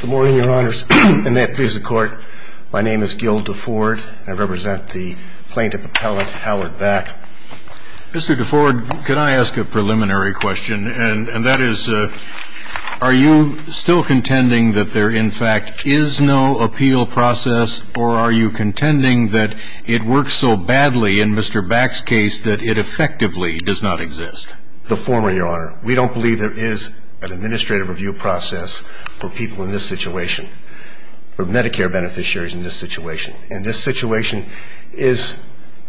Good morning, your honors. And may it please the court, my name is Gil DeFord. I represent the plaintiff appellate Howard Back. Mr. DeFord, could I ask a preliminary question? And that is, are you still contending that there in fact is no appeal process, or are you contending that it works so badly in Mr. Back's case that it effectively does not exist? The former, your honor, we don't believe there is an administrative review process for people in this situation, for Medicare beneficiaries in this situation. And this situation is,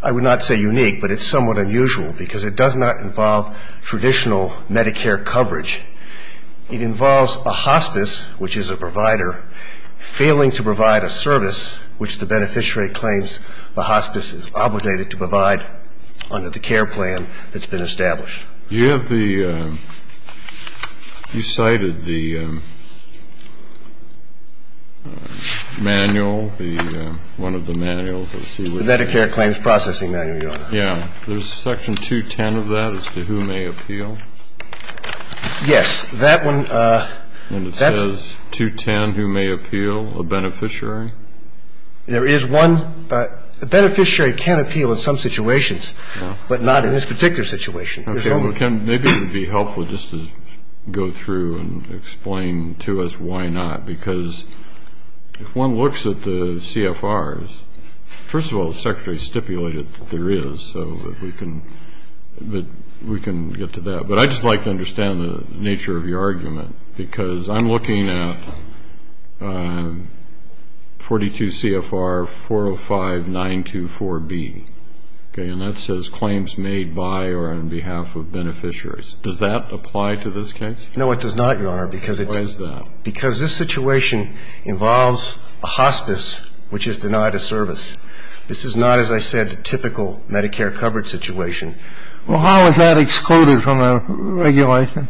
I would not say unique, but it's somewhat unusual because it does not involve traditional Medicare coverage. It involves a hospice, which is a provider, failing to provide a service which the beneficiary claims the hospice is obligated to provide under the care plan that's been established. You have the – you cited the manual, the – one of the manuals. Let's see. The Medicare Claims Processing Manual, your honor. Yeah. There's section 210 of that as to who may appeal. Yes. That one – that's – And it says, 210, who may appeal, a beneficiary. There is one – a beneficiary can appeal in some situations, but not in this particular situation. Okay. Well, Ken, maybe it would be helpful just to go through and explain to us why not, because if one looks at the CFRs, first of all, the Secretary stipulated that there is, so that we can – that we can get to that. But I'd just like to understand the nature of your argument, because I'm looking at 42 CFR 405924B, okay, and that says claims made by or on behalf of beneficiaries. Does that apply to this case? No, it does not, your honor, because it – Why is that? Because this situation involves a hospice which is denied a service. This is not, as I said, a typical Medicare coverage situation. Well, how is that excluded from a regulation?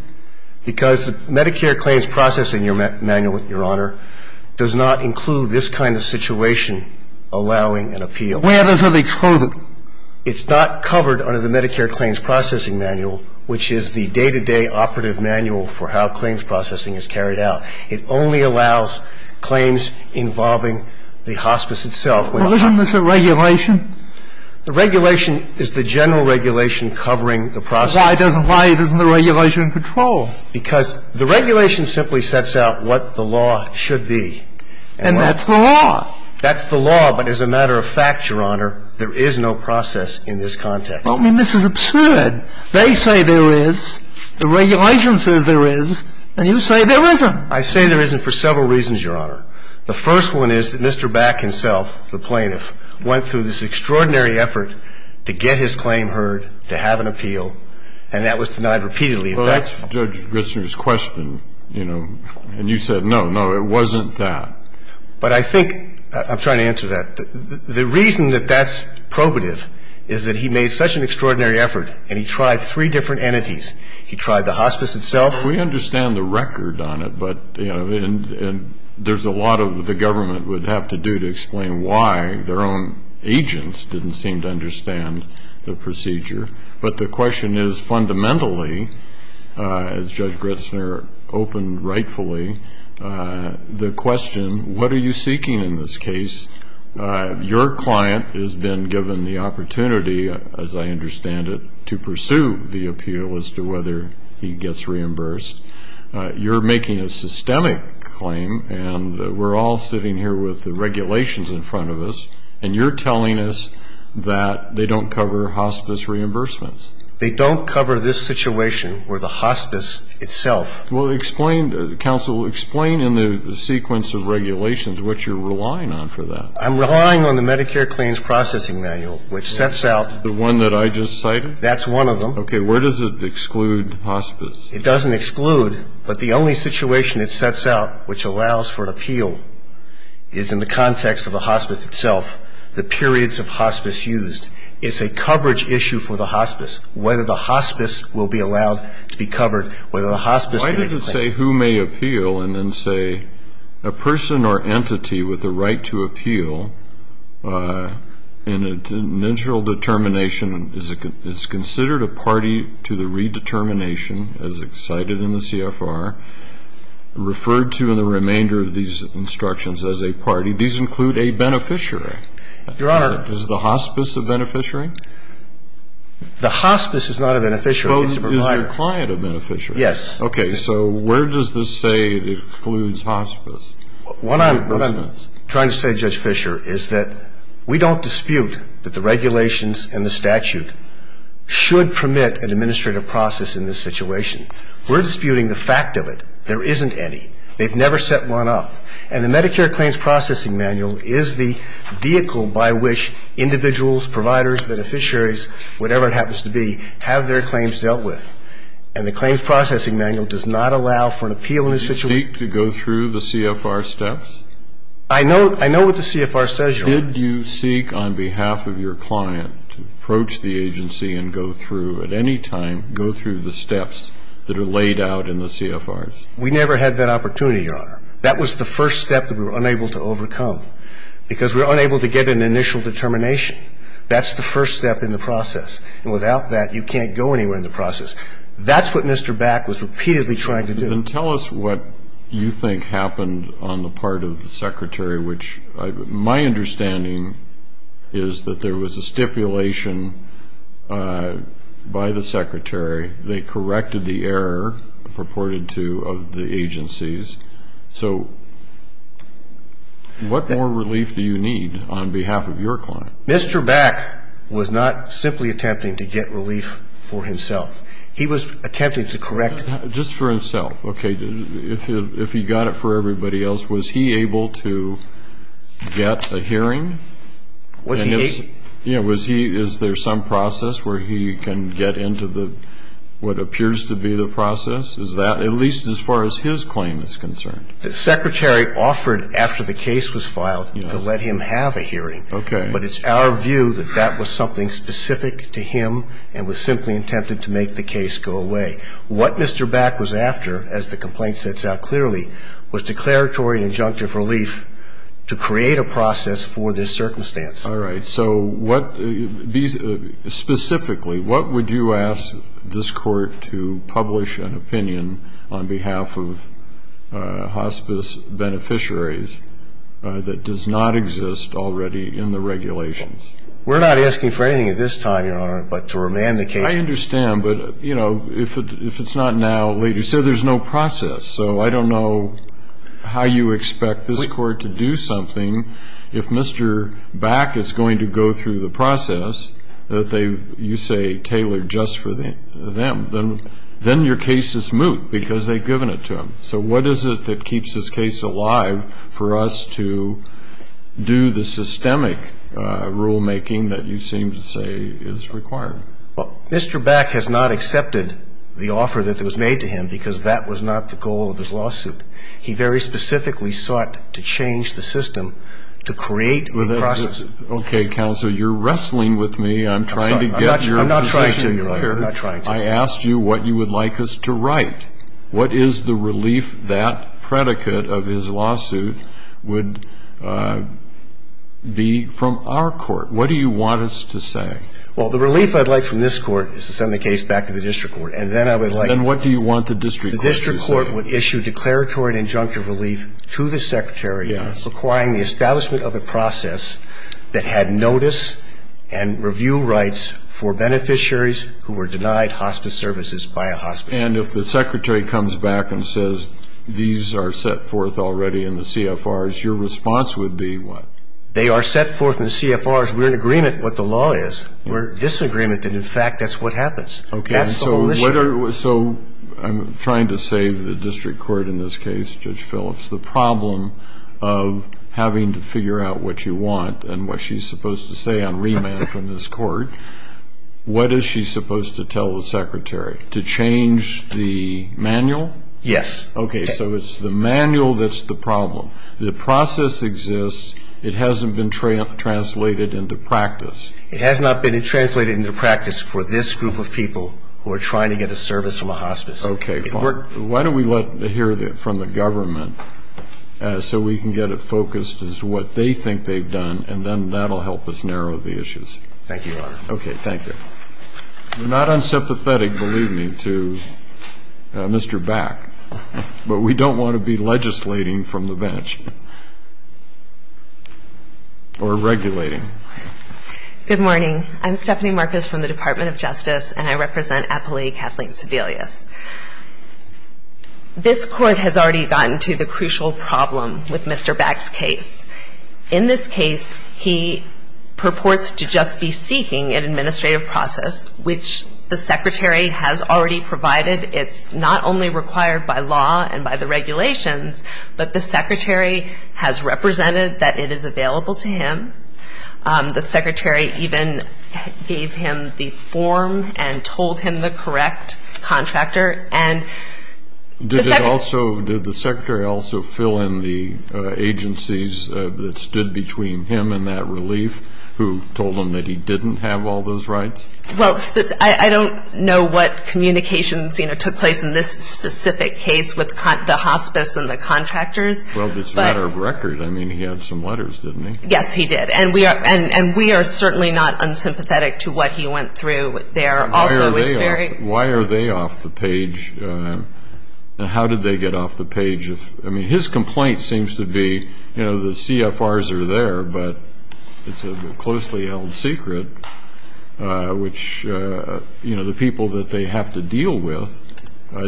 Because the Medicare Claims Processing Manual, your honor, does not include this kind of situation allowing an appeal. Where does it exclude it? It's not covered under the Medicare Claims Processing Manual, which is the day-to-day operative manual for how claims processing is carried out. It only allows claims involving the hospice itself. Well, isn't this a regulation? The regulation is the general regulation covering the process. Why doesn't – why isn't the regulation in control? Because the regulation simply sets out what the law should be. And that's the law. That's the law, but as a matter of fact, your honor, there is no process in this context. Well, I mean, this is absurd. They say there is. The regulation says there is. And you say there isn't. I say there isn't for several reasons, your honor. The first one is that Mr. Back himself, the plaintiff, went through this extraordinary effort to get his claim heard, to have an appeal, and that was denied repeatedly. Well, that's Judge Ritzner's question, you know. And you said, no, no, it wasn't that. But I think – I'm trying to answer that. The reason that that's probative is that he made such an extraordinary effort and he tried three different entities. He tried the hospice itself. We understand the record on it, but, you know, and there's a lot of what the government would have to do to explain why their own agents didn't seem to understand the procedure. But the question is, fundamentally, as Judge Ritzner opened rightfully, the question, what are you seeking in this case? Your client has been given the opportunity, as I understand it, to pursue the appeal as to whether he gets reimbursed. You're making a systemic claim, and we're all sitting here with the regulations in front of us, and you're telling us that they don't cover hospice reimbursements. They don't cover this situation where the hospice itself – Well, explain – counsel, explain in the sequence of regulations what you're relying on for that. I'm relying on the Medicare claims processing manual, which sets out – The one that I just cited? That's one of them. Okay. Where does it exclude hospice? It doesn't exclude, but the only situation it sets out which allows for appeal is in the context of the hospice itself, the periods of hospice used. It's a question of whether the hospice will be allowed to be covered, whether the hospice – Why does it say, who may appeal, and then say, a person or entity with the right to appeal, in an initial determination, is considered a party to the redetermination, as cited in the CFR, referred to in the remainder of these instructions as a party. These include a beneficiary. Your Honor – Is the hospice a beneficiary? The hospice is not a beneficiary. It's a provider. But is your client a beneficiary? Yes. Okay. So where does this say it excludes hospice? What I'm trying to say, Judge Fischer, is that we don't dispute that the regulations and the statute should permit an administrative process in this situation. We're disputing the fact of it. There isn't any. They've never set one up. And the Medicare claims processing manual is the vehicle by which individuals, providers, beneficiaries, whatever it happens to be, have their claims dealt with. And the claims processing manual does not allow for an appeal in this situation. Did you seek to go through the CFR steps? I know what the CFR says, Your Honor. Did you seek on behalf of your client to approach the agency and go through at any time, go through the steps that are laid out in the CFRs? We never had that opportunity, Your Honor. That was the first step that we were That's the first step in the process. And without that, you can't go anywhere in the process. That's what Mr. Back was repeatedly trying to do. Then tell us what you think happened on the part of the Secretary, which my understanding is that there was a stipulation by the Secretary. They corrected the error purported to of the agencies. So what more relief do you need on behalf of your client? Mr. Back was not simply attempting to get relief for himself. He was attempting to correct Just for himself. Okay. If he got it for everybody else, was he able to get a hearing? Was he able? Yeah. Is there some process where he can get into what appears to be the process? Is that at least as far as his claim is concerned? The Secretary offered, after the case was filed, to let him have a hearing. Okay. But it's our view that that was something specific to him and was simply attempted to make the case go away. What Mr. Back was after, as the complaint sets out clearly, was declaratory and injunctive relief to create a process for this circumstance. All right. So specifically, what would you ask this Court to publish an opinion on behalf of hospice beneficiaries that does not exist already in the regulations? We're not asking for anything at this time, Your Honor, but to remand the case. I understand. But, you know, if it's not now, later. So there's no process. So I don't know how you expect this Court to do something if Mr. Back is going to go through the process that they, you say, tailored just for them. Then your case is moot because they've given it to him. So what is it that keeps this case alive for us to do the systemic rulemaking that you seem to say is required? Well, Mr. Back has not accepted the offer that was made to him because that was not the goal of his lawsuit. He very specifically sought to change the system to create a process. Okay, Counselor, you're wrestling with me. I'm trying to get your position. I'm sorry. I'm not trying to, Your Honor. I'm not trying to. I asked you what you would like us to write. What is the relief that predicate of his lawsuit would be from our Court? What do you want us to say? Well, the relief I'd like from this Court is to send the case back to the district court. And then I would like... Then what do you want the district court to say? The district court would issue declaratory and injunctive relief to the Secretary... Yes. ...requiring the establishment of a process that had notice and review rights for beneficiaries who were denied hospice services by a hospice. And if the Secretary comes back and says, these are set forth already in the CFRs, your response would be what? They are set forth in the CFRs. We're in agreement what the law is. We're in disagreement that, in fact, that's what happens. That's the whole issue. So I'm trying to save the district court in this case, Judge Phillips. The problem of having to figure out what you want and what she's supposed to say on remand from this Court, what is she supposed to tell the Secretary? To change the manual? Yes. Okay. So it's the manual that's the problem. The process exists. It hasn't been translated into practice. It has not been translated into practice for this group of people who are trying to get a service from a hospice. Okay. Why don't we let...hear from the government so we can get it focused as to what they think they've done, and then that will help us narrow the issues. Thank you, Your Honor. Okay. Thank you. We're not unsympathetic, believe me, to Mr. Back. But we don't want to be legislating from the bench or regulating. Good morning. I'm Stephanie Marcus from the Department of Justice, and I represent Appali Kathleen Sebelius. This Court has already gotten to the crucial problem with Mr. Back's case. In this case, he purports to just be seeking an administrative process, which the Secretary has already provided. It's not only required by law and by the regulations, but the Secretary has represented that it is available to him. The Secretary even gave him the form and told him the correct contract terms. Did the Secretary also fill in the agencies that stood between him and that relief, who told him that he didn't have all those rights? Well, I don't know what communications, you know, took place in this specific case with the hospice and the contractors. Well, it's a matter of record. I mean, he had some letters, didn't he? Yes, he did. And we are certainly not unsympathetic to what he went through there also. Why are they off the page? And how did they get off the page? I mean, his complaint seems to be, you know, the CFRs are there, but it's a closely held secret, which, you know, the people that they have to deal with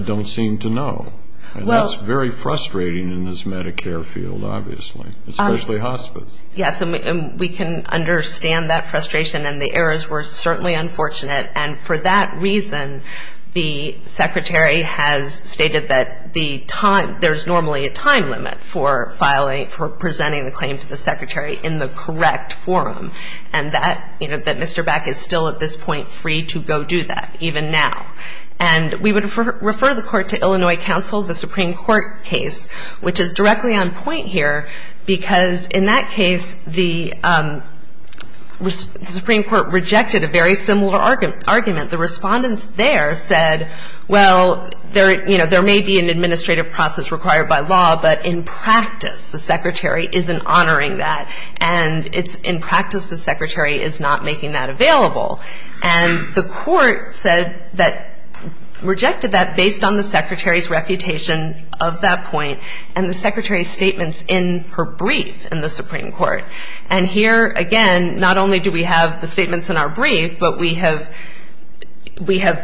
don't seem to know. And that's very frustrating in this Medicare field, obviously, especially hospice. Yes, and we can understand that frustration, and the errors were certainly unfortunate. And for that reason, the Secretary has stated that there's normally a time limit for presenting the claim to the Secretary in the correct forum, and that, you know, that Mr. Beck is still at this point free to go do that, even now. And we would refer the Court to Illinois Council, the Supreme Court case, which is directly on point here, because in that case, the Supreme Court rejected a very similar argument. The respondents there said, well, there, you know, there may be an administrative process required by law, but in practice, the Secretary isn't honoring that, and it's in practice the Secretary is not making that available. And the Court said that, rejected that based on the Secretary's reputation of that point and the Secretary's statements in her brief in the Supreme Court. And here, again, not only do we have the statements in our brief, but we have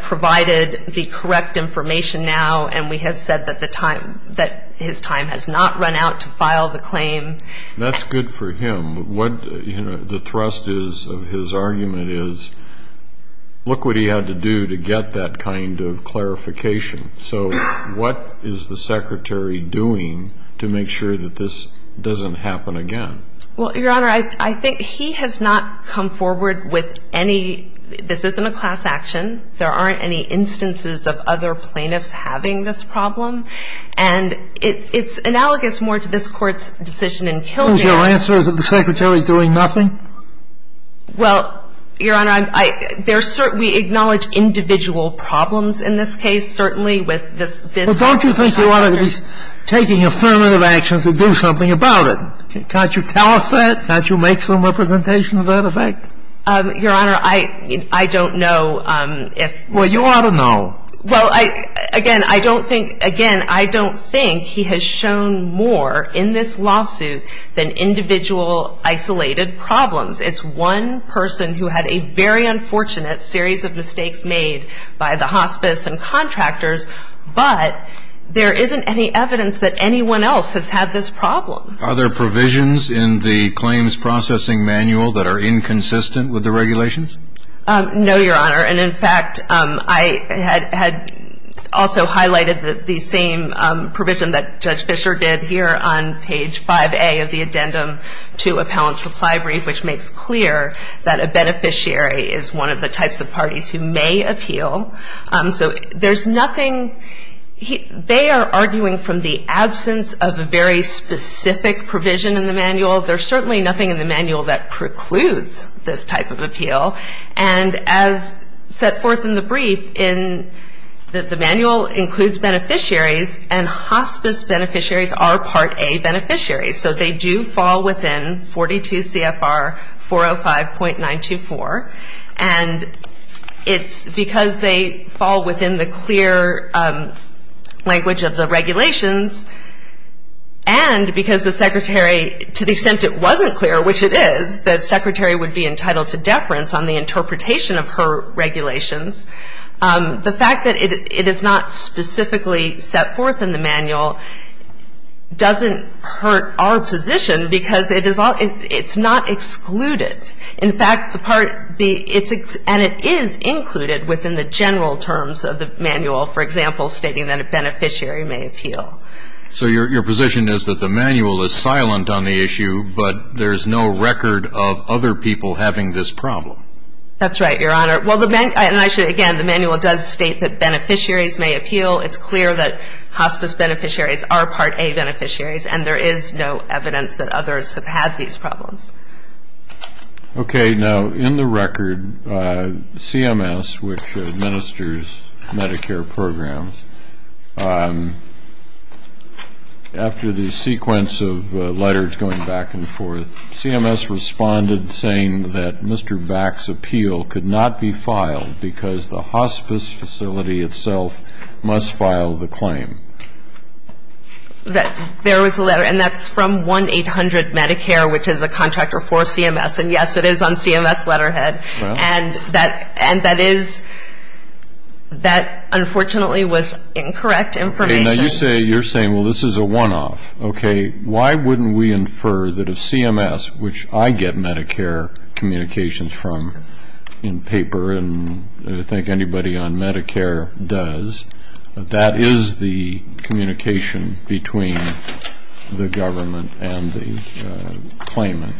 provided the correct information now, and we have said that the time, that his time has not run out to file the claim. That's good for him. What, you know, the thrust is of his argument is, look what he had to do to get that kind of clarification. So what is the Secretary doing to make sure that this doesn't happen again? Well, Your Honor, I think he has not come forward with any – this isn't a class action. There aren't any instances of other plaintiffs having this problem. And it's analogous more to this Court's decision in Kildare. Is your answer that the Secretary is doing nothing? Well, Your Honor, I'm – there's – we acknowledge individual problems in this case, certainly with this – But don't you think you ought to be taking affirmative actions to do something about it? Can't you tell us that? Can't you make some representation of that effect? Your Honor, I – I don't know if – Well, you ought to know. Well, I – again, I don't think – again, I don't think he has shown more in this lawsuit than individual isolated problems. It's one person who had a very unfortunate series of mistakes made by the hospice and contractors, but there isn't any evidence that anyone else has had this problem. Are there provisions in the claims processing manual that are inconsistent with the regulations? No, Your Honor. And in fact, I had – had also highlighted the same provision that Judge Fischer did here on page 5A of the addendum to appellant's reply brief, which makes clear that a beneficiary is one of the types of parties who may appeal. So there's nothing – they are arguing from the absence of a very specific provision in the manual. There's certainly nothing in the manual that precludes this type of appeal. And as set forth in the brief, in – the manual includes beneficiaries, and hospice beneficiaries are Part A beneficiaries. So they do fall within 42 CFR 405.924. And it's because they fall within the clear language of the regulations, and because the Secretary – to the extent it wasn't clear, which it is, the Secretary would be entitled to deference on the interpretation of her regulations. The fact that it is not specifically set forth in the manual doesn't hurt our position because it is – it's not excluded. In fact, the part – it's – and it is included within the general terms of the manual, for example, stating that a beneficiary may appeal. So your position is that the manual is silent on the issue, but there's no record of other people having this problem? That's right, Your Honor. Well, the – and I should – again, the manual does state that beneficiaries may appeal. It's clear that hospice beneficiaries are Part A beneficiaries, and there is no evidence that others have had these problems. Okay. Now, in the record, CMS, which administers Medicare programs, after the sequence of letters going back and forth, CMS responded saying that Mr. Back's appeal could not be filed because the hospice facility itself must file the claim. There was a letter, and that's from 1-800-MEDICARE, which is a contractor for CMS. And, yes, it is on CMS letterhead. And that – and that is – that, unfortunately, was incorrect information. Now, you say – you're saying, well, this is a one-off. Okay. Why wouldn't we infer that if CMS, which I get Medicare communications from in paper, and I think anybody on Medicare does, that that is the communication between the government and the claimant.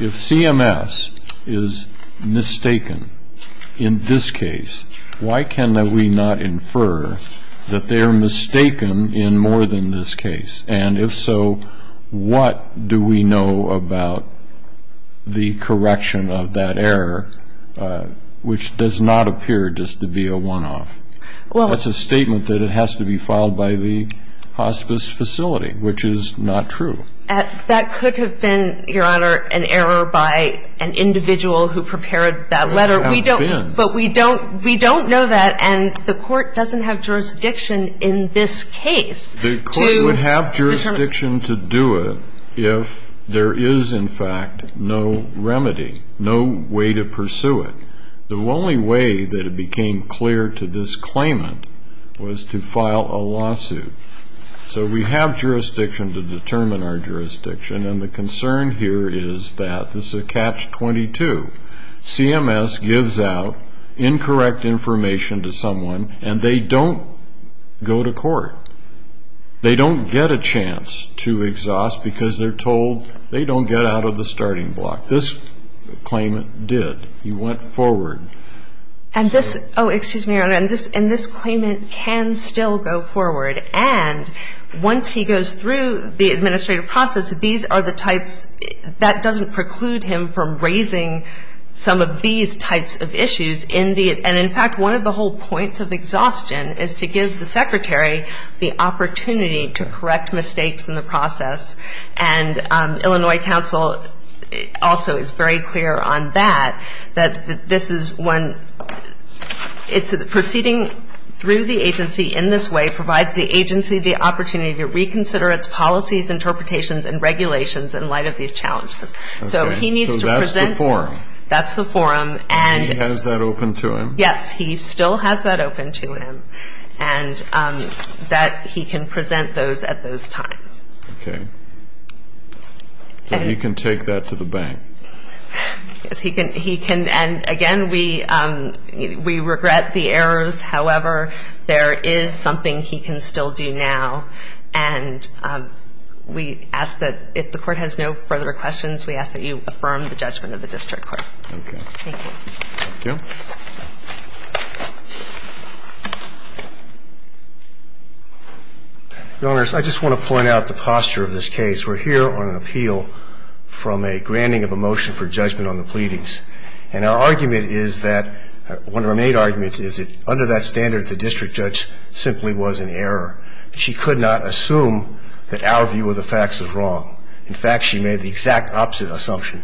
If CMS is mistaken in this case, why can we not infer that they are mistaken in more than this case? And if so, what do we know about the correction of that error, which does not appear just to be a one-off? Well – That's a statement that it has to be filed by the hospice facility, which is not true. That could have been, Your Honor, an error by an individual who prepared that letter. It could have been. We don't – but we don't – we don't know that, and the Court doesn't have jurisdiction in this case to – The Court would have jurisdiction to do it if there is, in fact, no remedy, no way to pursue it. The only way that it became clear to this claimant was to file a lawsuit. So we have jurisdiction to determine our jurisdiction, and the concern here is that this is a catch-22. CMS gives out incorrect information to someone, and they don't go to court. They don't get a chance to exhaust because they're told they don't get out of the starting block. This claimant did. He went forward. And this – oh, excuse me, Your Honor. And this claimant can still go forward, and once he goes through the administrative process, these are the types – that doesn't preclude him from raising some of these types of issues in the – and, in fact, one of the whole points of exhaustion is to give the Secretary the opportunity to correct mistakes in the process. And Illinois Council also is very clear on that, that this is when – it's proceeding through the agency in this way provides the agency the opportunity to reconsider its policies, interpretations, and regulations in light of these challenges. So he needs to present – So that's the forum. That's the forum. And he has that open to him. Yes, he still has that open to him, and that he can present those at those times. Okay. So he can take that to the bank. Yes, he can. And, again, we regret the errors. Thank you. And I just want to point out the posture of this case. We're here on an appeal from a granting of a motion for judgment on the pleadings. And our argument is that – one of our main arguments is that under that motion, we ask that you affirm the judgment of the district court. Under that standard, the district judge simply was in error. She could not assume that our view of the facts is wrong. In fact, she made the exact opposite assumption,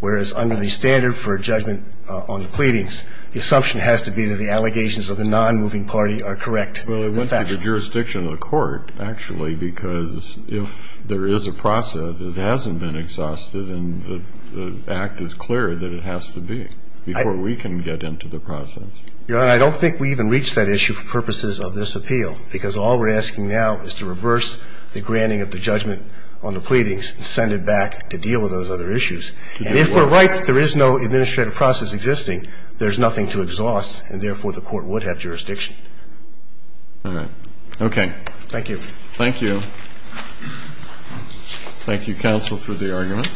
whereas under the standard for judgment on the pleadings, the assumption has to be that the allegations of the non-moving party are correct. Well, it went to the jurisdiction of the court, actually, because if there is a process that hasn't been exhausted, and the act is clear that it has to be before we can get into the process. Your Honor, I don't think we even reached that issue for purposes of this appeal, because all we're asking now is to reverse the granting of the judgment on the pleadings and send it back to deal with those other issues. And if we're right that there is no administrative process existing, there's nothing to exhaust, and, therefore, the court would have jurisdiction. All right. Okay. Thank you. Thank you. Thank you, counsel, for the argument. Thank you, counsel.